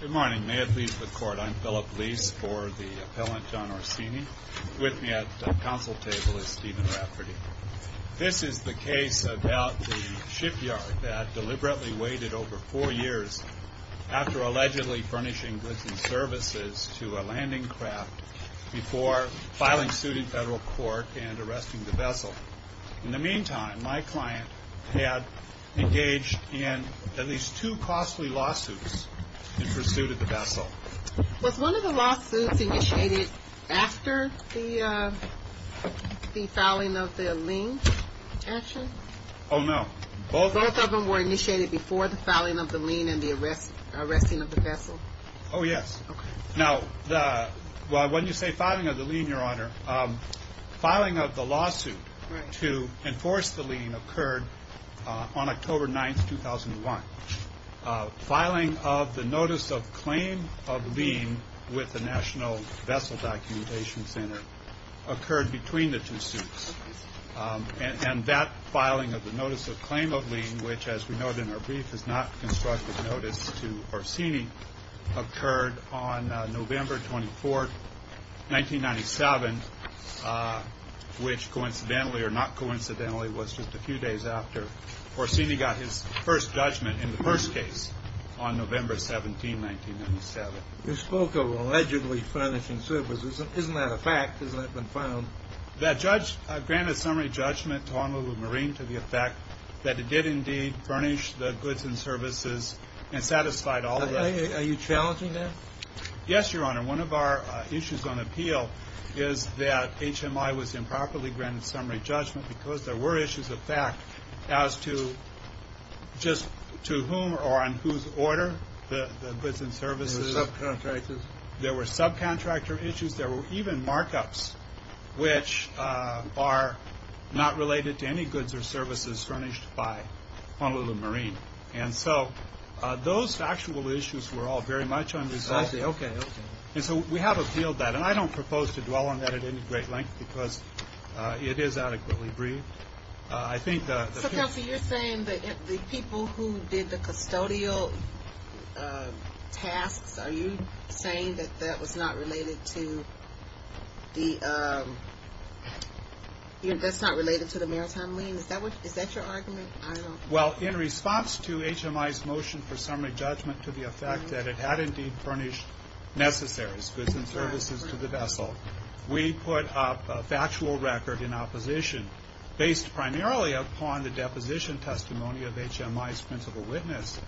Good morning. May it please the Court, I'm Philip Lease for the Appellant John Orsini. With me at the Council Table is Stephen Rafferty. This is the case about the shipyard that deliberately waited over four years after allegedly furnishing goods and services to a landing craft before filing suit in federal court and arresting the vessel. In the meantime, my client had engaged in at least two costly lawsuits in pursuit of the vessel. Was one of the lawsuits initiated after the filing of the lien action? Oh, no. Both of them were initiated before the filing of the lien and the arresting of the vessel? Oh, yes. Now, when you say filing of the lien, Your Honor, filing of the lawsuit to enforce the lien occurred on October 9th, 2001. Filing of the notice of claim of lien with the National Vessel Documentation Center occurred between the two suits. And that filing of the notice of claim of lien, which, as we noted in our brief, is not constructive notice to Orsini, occurred on November 24th, 1997, which coincidentally or not coincidentally was just a few days after Orsini got his first judgment in the first case on November 17, 1997. You spoke of allegedly furnishing services. Isn't that a fact? Hasn't that been found? That judge granted summary judgment to Honolulu Marine to the effect that it did indeed furnish the goods and services and satisfied all of them. Are you challenging that? Yes, Your Honor. One of our issues on appeal is that HMI was improperly granted summary judgment because there were issues of fact as to just to whom or on whose order the goods and services… There were subcontractors. There were issues. There were even markups which are not related to any goods or services furnished by Honolulu Marine. And so those factual issues were all very much unresolved. And so we have appealed that. And I don't propose to dwell on that at any great length because it is adequately briefed. I think… So, Kelsey, you're saying that the people who did the custodial tasks, are you saying that that's not related to the maritime lien? Is that your argument? Well, in response to HMI's motion for summary judgment to the effect that it had indeed furnished necessaries, goods and services to the vessel, we put up a factual record in opposition based primarily upon the deposition testimony of HMI's principal witness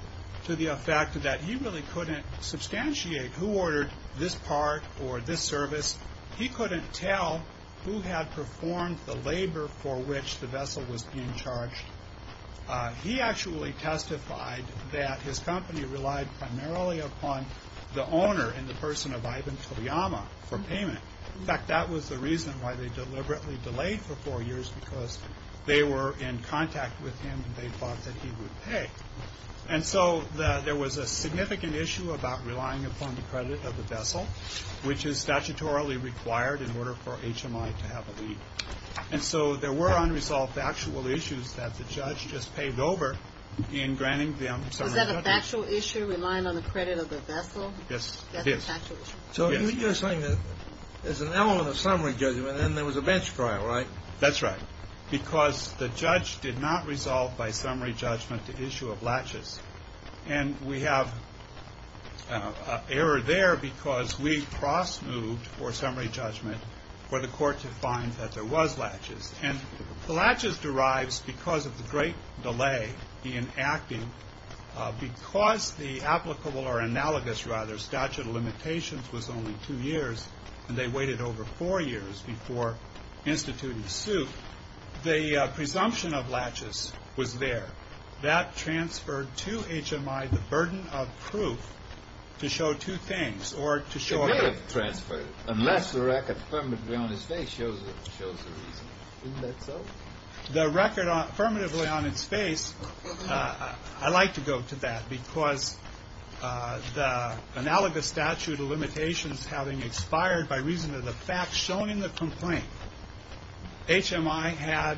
to the fact that he really couldn't substantiate who ordered this part or this service. He couldn't tell who had performed the labor for which the vessel was being charged. He actually testified that his company relied primarily upon the owner and the person of Ivan Toyama for payment. In fact, that was the reason why they deliberately delayed for four years because they were in contact with him and they thought that he would pay. And so there was a significant issue about relying upon the credit of the vessel, which is statutorily required in order for HMI to have a lead. And so there were unresolved factual issues that the judge just paved over in granting them summary judgment. Was that a factual issue, relying on the credit of the vessel? Yes, it is. That's a factual issue? Yes. So you're saying that there's an element of summary judgment and there was a bench trial, right? That's right. Because the judge did not resolve by summary judgment the issue of latches. And we have error there because we cross-moved for summary judgment for the court to find that there was latches. And the latches derives because of the great delay in acting. Because the applicable or analogous rather statute of limitations was only two years and they were not sued, the presumption of latches was there. That transferred to HMI the burden of proof to show two things, or to show a... It may have transferred, unless the record affirmatively on its face shows the reason. Isn't that so? The record affirmatively on its face, I like to go to that because the analogous statute of limitations having expired by reason of the fact shown in the complaint, HMI had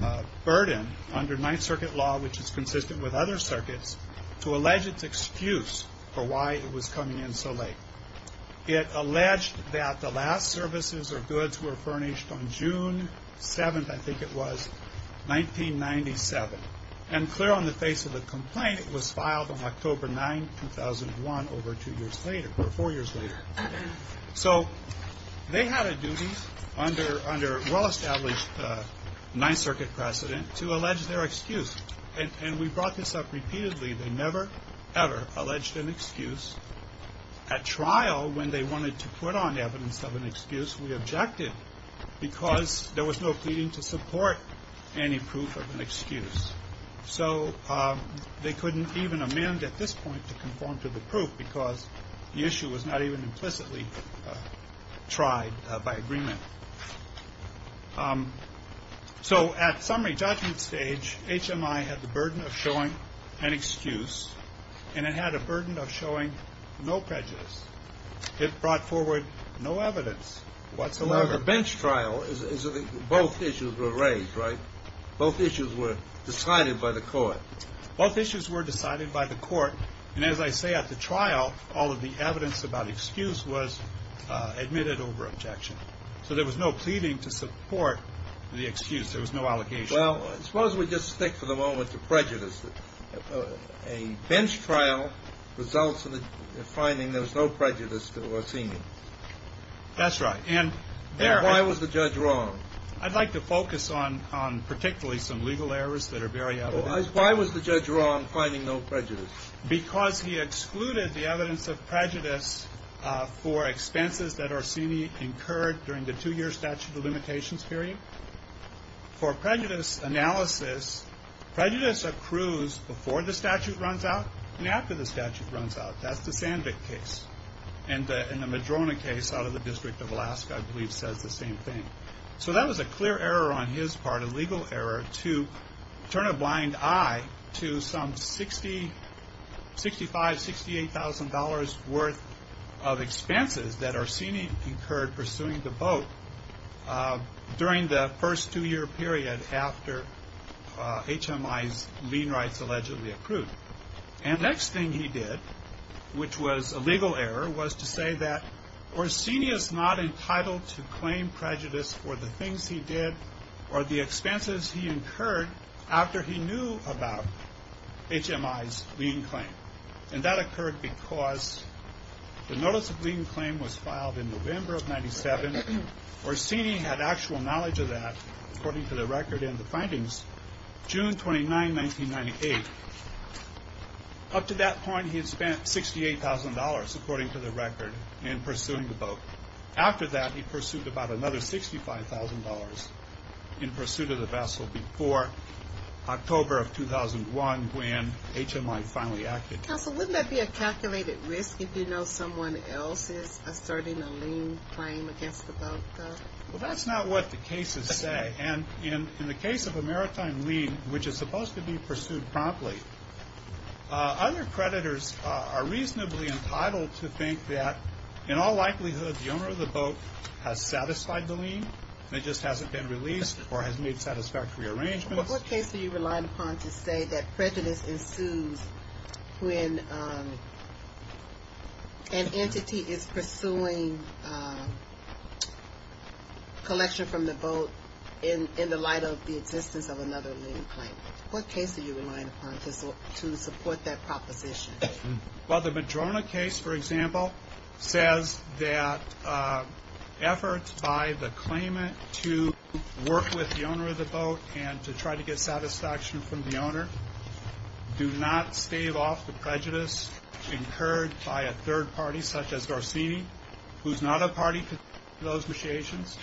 a burden under Ninth Circuit law, which is consistent with other circuits, to allege its excuse for why it was coming in so late. It alleged that the last services or goods were furnished on June 7th, I think it was, 1997. And clear on the face of the complaint, it was filed on October 9, 2001, over two years later, or four years later. So they had a duty under well-established Ninth Circuit precedent to allege their excuse. And we brought this up repeatedly. They never, ever alleged an excuse. At trial, when they wanted to put on evidence of an excuse, we objected because there was no pleading to end at this point to conform to the proof because the issue was not even implicitly tried by agreement. So at summary judgment stage, HMI had the burden of showing an excuse, and it had a burden of showing no prejudice. It brought forward no evidence whatsoever. Now, the bench trial, both issues were raised, right? Both issues were decided by the court. Both issues were decided by the court. And as I say, at the trial, all of the evidence about excuse was admitted over objection. So there was no pleading to support the excuse. There was no allocation. Well, suppose we just stick for the moment to prejudice. A bench trial results in a finding there was no prejudice to Orsini. That's right. And there I was the judge wrong. I'd like to focus on particularly some legal errors that are very out of date. Why was the judge wrong finding no prejudice? Because he excluded the evidence of prejudice for expenses that Orsini incurred during the two-year statute of limitations period. For prejudice analysis, prejudice accrues before the statute runs out and after the statute runs out. That's the Sandvik case. And the Madrona case out of the District of Alaska, I believe, says the same thing. So that was a clear error on his part, a legal error to turn a blind eye to some 65, $68,000 worth of expenses that Orsini incurred pursuing the vote during the first two-year period after HMI's lien rights allegedly accrued. And the next thing he did, which was a legal error, was to say that Orsini is not entitled to claim prejudice for the things he did or the expenses he incurred after he knew about HMI's lien claim. And that occurred because the notice of lien claim was filed in November of 1997. Orsini had actual knowledge of that, according to the record in the findings, June 29, 1998. Up to that point, he had spent $68,000, according to the record, in pursuing the vote. After that, he pursued about another $65,000 in pursuit of the vassal before October of 2001, when HMI finally acted. Counsel, wouldn't that be a calculated risk if you know someone else is asserting a lien claim against the vote, though? Well, that's not what the cases say. And in the case of a maritime lien, which is supposed to be pursued promptly, other creditors are reasonably entitled to think that in all likelihood the owner of the boat has satisfied the lien. It just hasn't been released or has made satisfactory arrangements. What case do you rely upon to say that prejudice ensues when an entity is pursuing collection from the boat in the light of the existence of another lien claim? What case do you rely upon to support that proposition? Well, the Madrona case, for example, says that efforts by the claimant to work with the owner of the boat and to try to get satisfaction from the owner do not stave off the prejudice incurred by a third party, such as Garcini, who's not a party to those negotiations.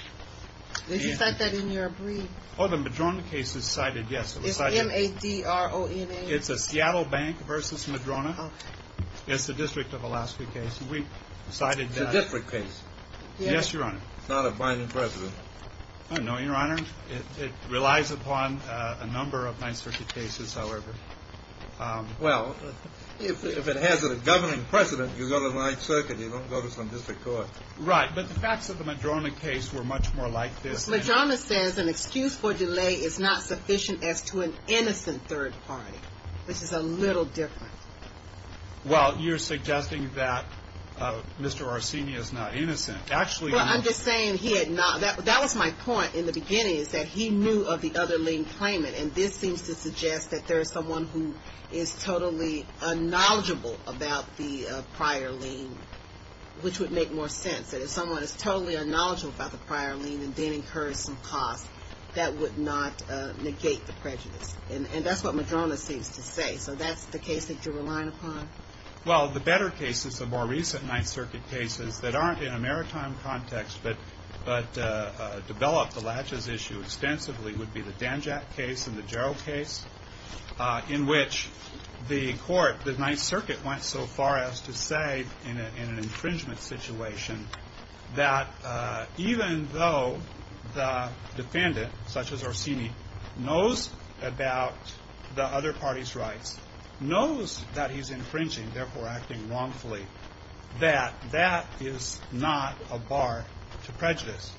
Did you cite that in your brief? Oh, the Madrona case is cited, yes. It's M-A-D-R-O-N-A. It's a Seattle Bank versus Madrona. It's the District of Alaska case. It's a different case. Yes, Your Honor. It's not a binding precedent. No, Your Honor. It relies upon a number of Ninth Circuit cases, however. Well, if it has a governing precedent, you go to Ninth Circuit. You don't go to some district court. Right. But the facts of the Madrona case were much more like this. The Madrona says an excuse for delay is not sufficient as to an innocent third party, which is a little different. Well, you're suggesting that Mr. Garcini is not innocent. Well, I'm just saying he had not. That was my point in the beginning, is that he knew of the other lien claimant, and this seems to suggest that there is someone who is totally unknowledgeable about the prior lien, which would make more sense. If someone is totally unknowledgeable about the prior lien and then incurs some cost, that would not negate the prejudice. And that's what Madrona seems to say. So that's the case that you're relying upon? Well, the better cases, the more recent Ninth Circuit cases that aren't in a maritime context but develop the latches issue extensively would be the Danjack case and the Jarrell case, in which the court, the Ninth Circuit, went so far as to say in an infringement situation that even though the defendant, such as Garcini, knows about the other party's rights, knows that he's infringing, therefore acting wrongfully, that that is not a bar to prejudice.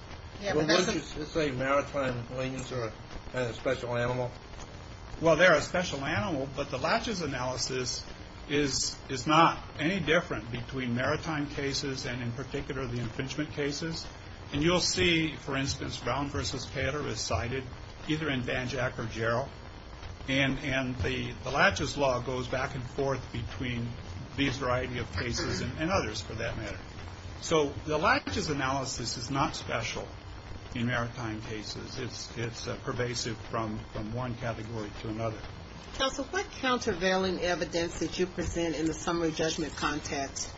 Well, wouldn't you say maritime liens are a special animal? Well, they're a special animal, but the latches analysis is not any different between maritime cases and, in particular, the infringement cases. And you'll see, for instance, Brown v. Pater is cited either in Danjack or Jarrell. And the latches law goes back and forth between these variety of cases and others, for that matter. So the latches analysis is not special in maritime cases. It's pervasive from one category to another. Counsel, what countervailing evidence did you present in the summary judgment context?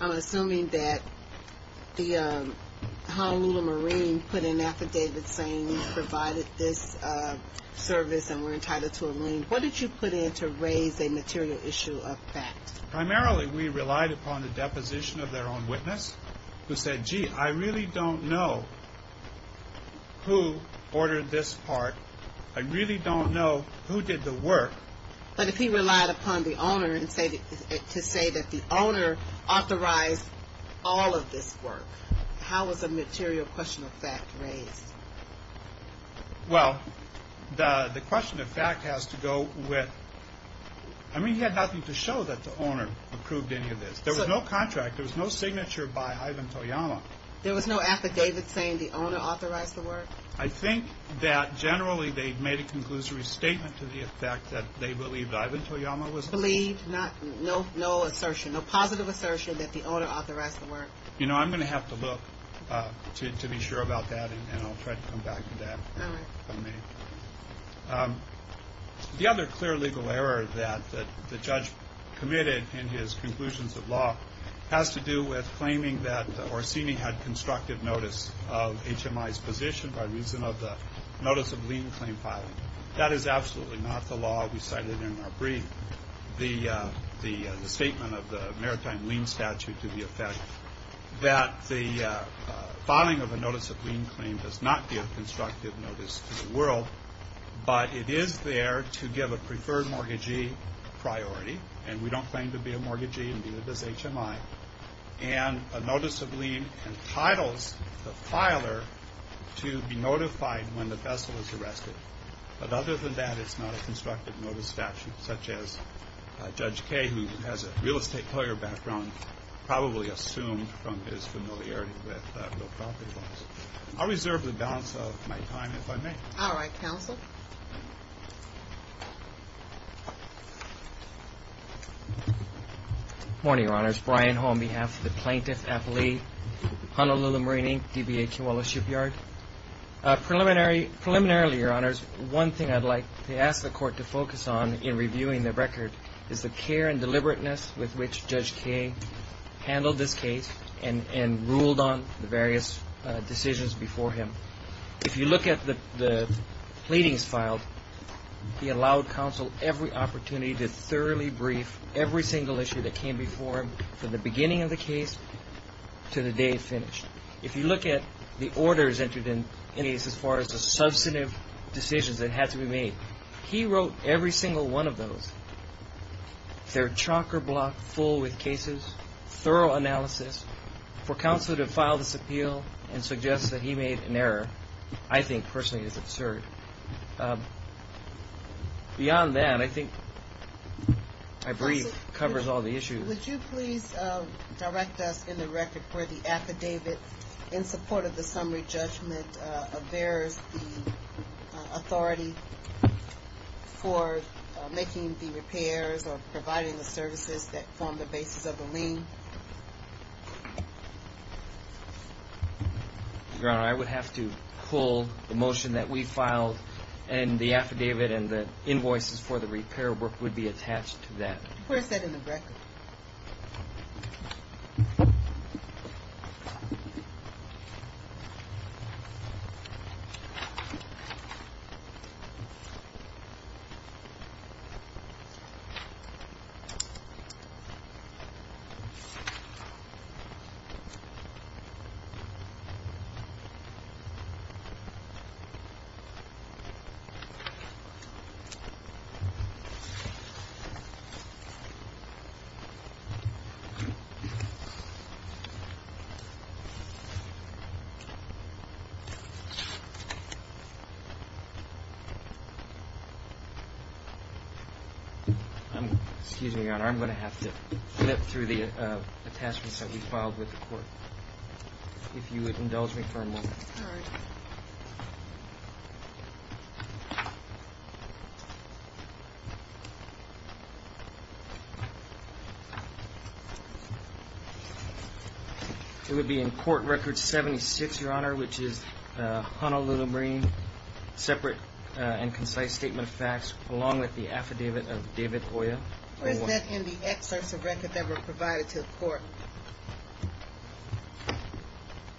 I'm assuming that the Honolulu Marine put in an affidavit saying you provided this service and were entitled to a lien. What did you put in to raise a material issue of fact? Primarily, we relied upon the deposition of their own witness, who said, gee, I really don't know who ordered this part. I really don't know who did the work. But if he relied upon the owner to say that the owner authorized all of this work, how was a material question of fact raised? Well, the question of fact has to go with, I mean, he had nothing to show that the owner approved any of this. There was no contract. There was no signature by Ivan Toyama. There was no affidavit saying the owner authorized the work? I think that generally they made a conclusory statement to the effect that they believed Ivan Toyama was the owner. Believed, no assertion, no positive assertion that the owner authorized the work? You know, I'm going to have to look to be sure about that, and I'll try to come back to that. All right. The other clear legal error that the judge committed in his conclusions of law has to do with claiming that Orsini had constructive notice of HMI's position by reason of the notice of lien claim filing. That is absolutely not the law we cited in our brief. The statement of the maritime lien statute to the effect that the filing of a notice of lien claim does not give constructive notice to the world, but it is there to give a preferred mortgagee priority, and we don't claim to be a mortgagee, and neither does HMI. And a notice of lien entitles the filer to be notified when the vessel is arrested. But other than that, it's not a constructive notice statute, such as Judge Kaye, who has a real estate lawyer background, and probably assumed from his familiarity with real property laws. I'll reserve the balance of my time if I may. All right. Counsel? Good morning, Your Honors. Brian Hull on behalf of the plaintiff, appellee, Honolulu Marine, DBA Kiwala Shipyard. Preliminarily, Your Honors, one thing I'd like to ask the court to focus on in reviewing the record is the care and deliberateness with which Judge Kaye handled this case and ruled on the various decisions before him. If you look at the pleadings filed, he allowed counsel every opportunity to thoroughly brief every single issue that came before him from the beginning of the case to the day it finished. If you look at the orders entered in, as far as the substantive decisions that had to be made, he wrote every single one of those. They're chocker-blocked full with cases, thorough analysis. For counsel to file this appeal and suggest that he made an error, I think personally is absurd. Beyond that, I think my brief covers all the issues. Would you please direct us in the record for the affidavit in support of the summary judgment of the authority for making the repairs or providing the services that form the basis of the lien? Your Honor, I would have to pull the motion that we filed and the affidavit and the invoices for the repair work would be attached to that. Where is that in the record? Okay. Excuse me, Your Honor. I'm going to have to flip through the attachments that we filed with the court. If you would indulge me for a moment. Sorry. It would be in court record 76, Your Honor, which is Honolulu Marine, separate and concise statement of facts along with the affidavit of David Oya. Is that in the excerpts of record that were provided to the court?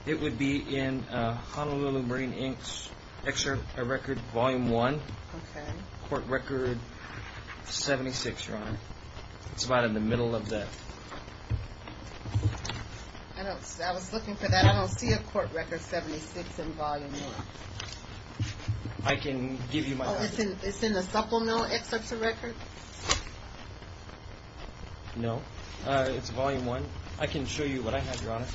It would be in Honolulu Marine, excerpt of record volume 1 court record 76, Your Honor. It's about in the middle of that. I was looking for that. I don't see a court record 76 in volume 1. I can give you my... It's in the supplemental excerpts of record? No. It's volume 1. I can show you what I have, Your Honor.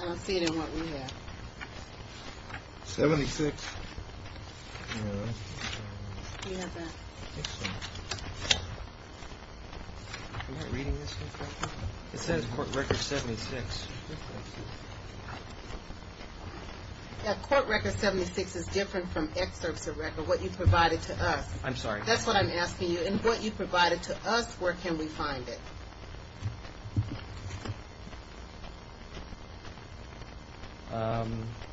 I don't see it in what we have. 76. Do you have that? Am I reading this right? It says court record 76. Yeah, court record 76 is different from excerpts of record, what you provided to us. That's what I'm asking you. In what you provided to us, where can we find it?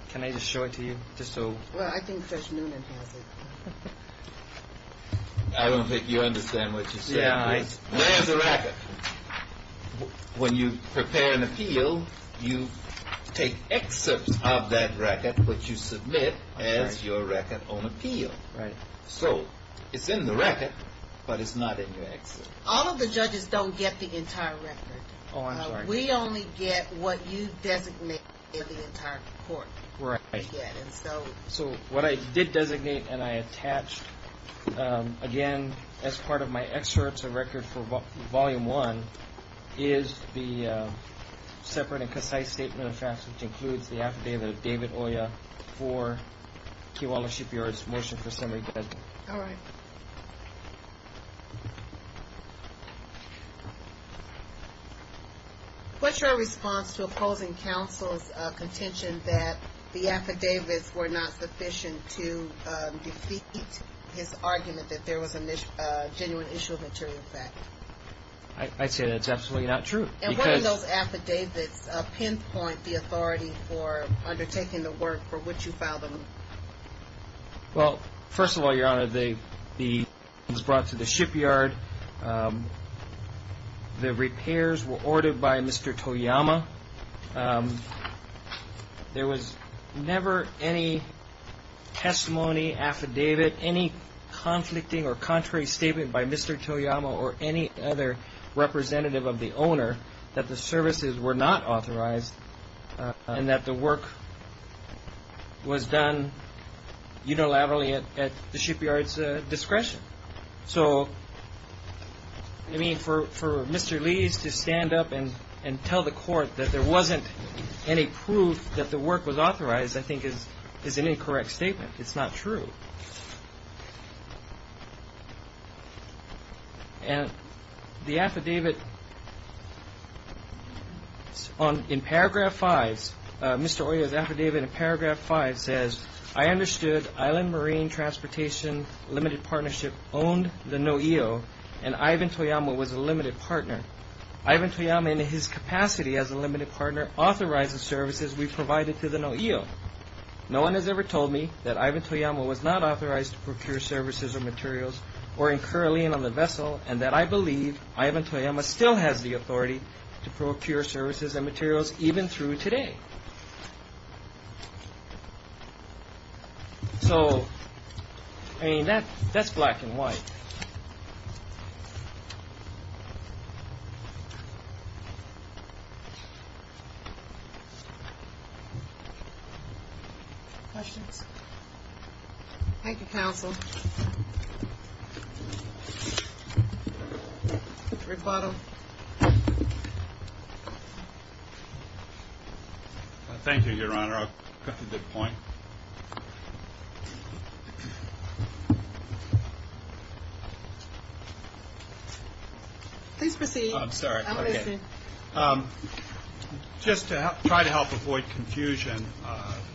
Can I just show it to you? Well, I think Judge Noonan has it. I don't think you understand what you're saying. When you prepare an appeal, you take excerpts of that as your record on appeal. It's in the record, but it's not in your excerpt. All of the judges don't get the entire record. We only get what you designate in the entire court. What I did designate and I attached as part of my excerpts of record for volume 1 is the separate and concise statement of facts which includes the affidavit of David Oya for Kewala Shipyard's motion for summary judgment. What's your response to opposing counsel's contention that the affidavits were not sufficient to defeat his argument that there was a genuine issue of material fact? I'd say that's absolutely not true. What did those affidavits pinpoint the authority for undertaking the work for which you filed them? First of all, Your Honor, they were brought to the shipyard. The repairs were ordered by Mr. Toyama. There was never any testimony, affidavit, any conflicting or contrary statement by Mr. Toyama or any other representative of the owner that the services were not authorized and that the work was done unilaterally at the shipyard's discretion. So, I mean, for Mr. Lees to stand up and tell the court that there wasn't any proof that the work was authorized I think is an incorrect statement. It's not true. And the affidavit in paragraph 5, Mr. Oya's affidavit in paragraph 5 says, I understood Island Marine Transportation Limited Partnership owned the NOEO and Ivan Toyama was a limited partner. Ivan Toyama in his capacity as a limited partner authorized the services we provided to the NOEO. No one has ever told me that Ivan Toyama was not authorized to procure services or materials or incur a lien on the vessel and that I believe Ivan Toyama still has the authority to procure services and materials even through today. So, I mean, that's black and white. Questions? Questions? Thank you, counsel. Rebuttal. Thank you, Your Honor. I'll cut to the point. Please proceed. Just to try to help avoid confusion,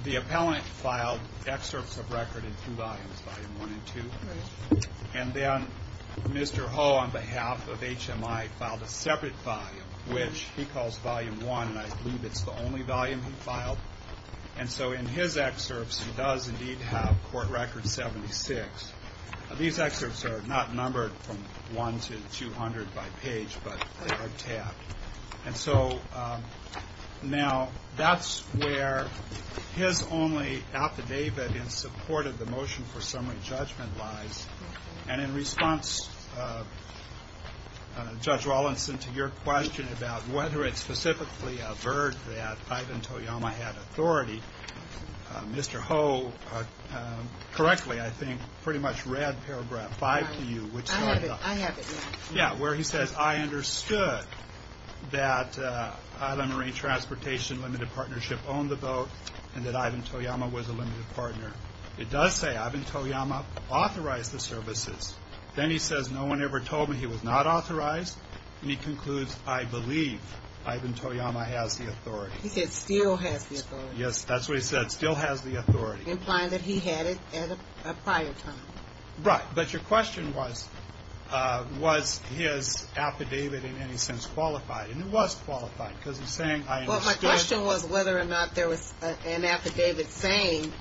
the appellant filed excerpts of record in two volumes, volume 1 and 2. And then Mr. Ho on behalf of HMI filed a separate volume which he calls volume 1 and I believe it's the only volume he filed. And so in his excerpts he does indeed have court record 76. These excerpts are not numbered from 1 to 200 by page, but they are tabbed. Now, that's where his only affidavit in support of the motion for summary judgment lies and in response, Judge Rawlinson to your question about whether it's specifically avert that Ivan Toyama had authority, Mr. Ho correctly, I think, pretty much read paragraph 5 to you. I have it now. Yeah, where he says, I understood that Island Marine Transportation Limited Partnership owned the boat and that Ivan Toyama was a limited partner. It does say Ivan Toyama authorized the services. Then he says no one ever told me he was not authorized. And he concludes, I believe that yes, that's what he said, still has the authority. Implying that he had it at a prior time. Right. But your question was was his affidavit in any sense qualified? And it was qualified because he's saying I understood. Well, my question was whether or not there was an affidavit saying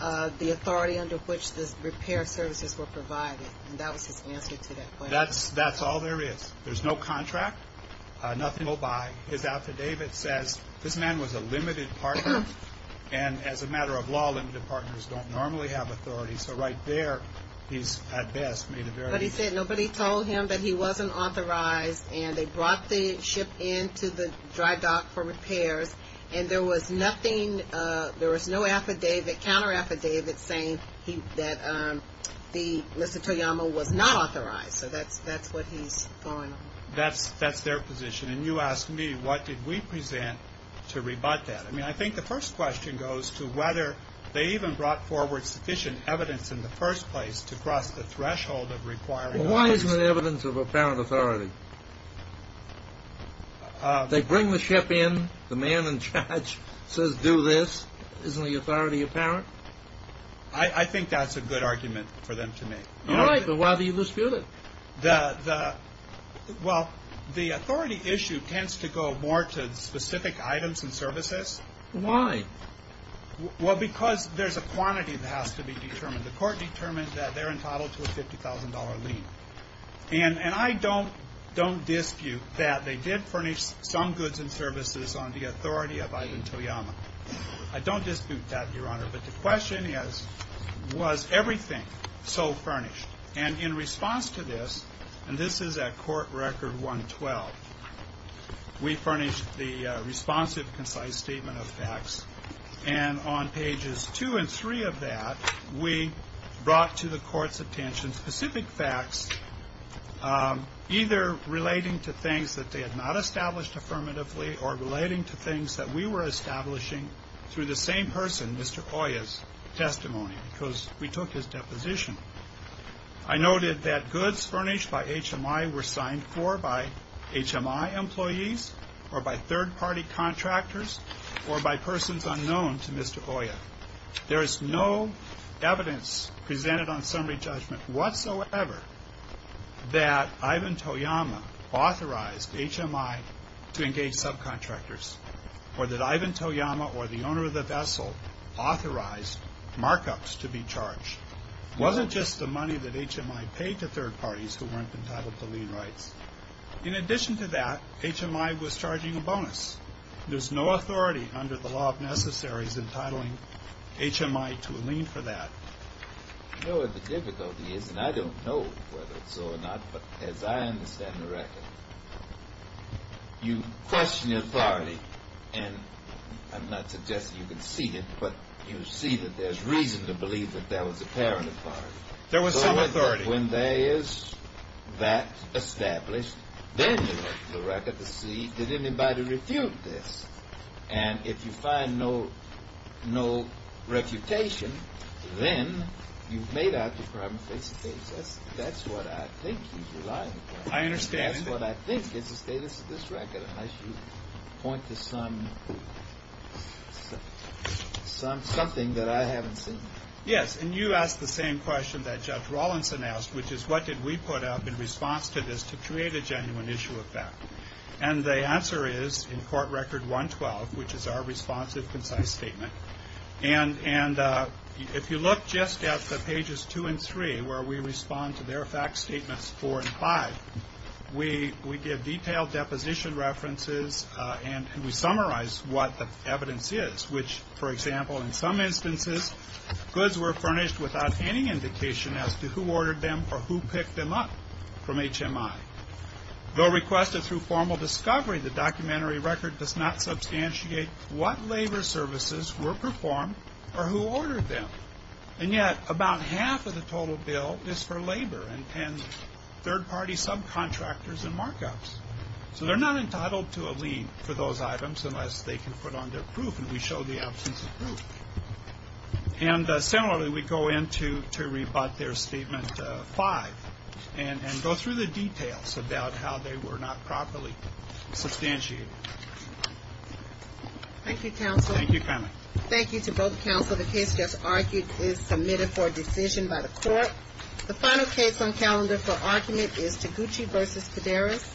the authority under which the repair services were provided. And that was his answer to that question. That's all there is. There's no contract. Nothing will buy. His affidavit says this man was a limited partner. And as a matter of law, limited partners don't normally have authority. So right there, he's at best made a very... But he said nobody told him that he wasn't authorized and they brought the ship into the dry dock for repairs and there was nothing, there was no affidavit, counter affidavit saying that Mr. Toyama was not authorized. So that's what he's going on. That's their position. And you present to rebut that. I mean, I think the first question goes to whether they even brought forward sufficient evidence in the first place to cross the threshold of requiring... Well, why isn't there evidence of apparent authority? They bring the ship in. The man in charge says do this. Isn't the authority apparent? I think that's a good argument for them to make. All right, but why do you dispute it? Well, the authority issue tends to go more to specific items and services. Why? Well, because there's a quantity that has to be determined. The court determined that they're entitled to a $50,000 lien. And I don't dispute that they did furnish some goods and services on the authority of Ivan Toyama. I don't dispute that, Your Honor. But the question is, was everything so furnished? And in response to this, and this is at Court Record 112, we furnished the responsive, concise statement of facts. And on pages 2 and 3 of that, we brought to the Court's attention specific facts, either relating to things that they had not established affirmatively or relating to things that we were establishing through the same person, Mr. Hoya's, testimony. Because we took his deposition. I noted that it was not made for by HMI employees or by third party contractors or by persons unknown to Mr. Hoya. There is no evidence presented on summary judgment whatsoever that Ivan Toyama authorized HMI to engage subcontractors or that Ivan Toyama or the owner of the vessel authorized markups to be charged. It wasn't just the money that HMI paid to third party contractors. In addition to that, HMI was charging a bonus. There's no authority under the law of necessaries entitling HMI to a lien for that. You know what the difficulty is, and I don't know whether it's so or not, but as I understand the record, you question the authority, and I'm not suggesting you can see it, but you see that there's reason to believe that there was apparent authority. There was some authority. So when there is that established, then you look at the record to see did anybody refute this? And if you find no refutation, then you've made out your problem face to face. That's what I think he's relying on. I understand. That's what I think is the status of this record, unless you point to some something that I haven't seen. Yes, and you asked the same question that we put up in response to this to create a genuine issue of fact. And the answer is in court record 112, which is our responsive concise statement. And if you look just at the pages two and three, where we respond to their fact statements four and five, we give detailed deposition references and we summarize what the evidence is, which for example in some instances, goods were furnished without any indication as to who ordered them or who picked them up from HMI. Though requested through formal discovery, the documentary record does not substantiate what labor services were performed or who ordered them. And yet about half of the total bill is for labor and third party subcontractors and markups. So they're not entitled to a lien for those items unless they can put on their proof, and we show the absence of proof. And similarly we go in to rebut their statement five and go through the details about how they were not properly substantiated. Thank you counsel. Thank you family. Thank you to both counsel. The case just argued is submitted for decision by the court. The final case on calendar for argument is Taguchi v. Cedaris......................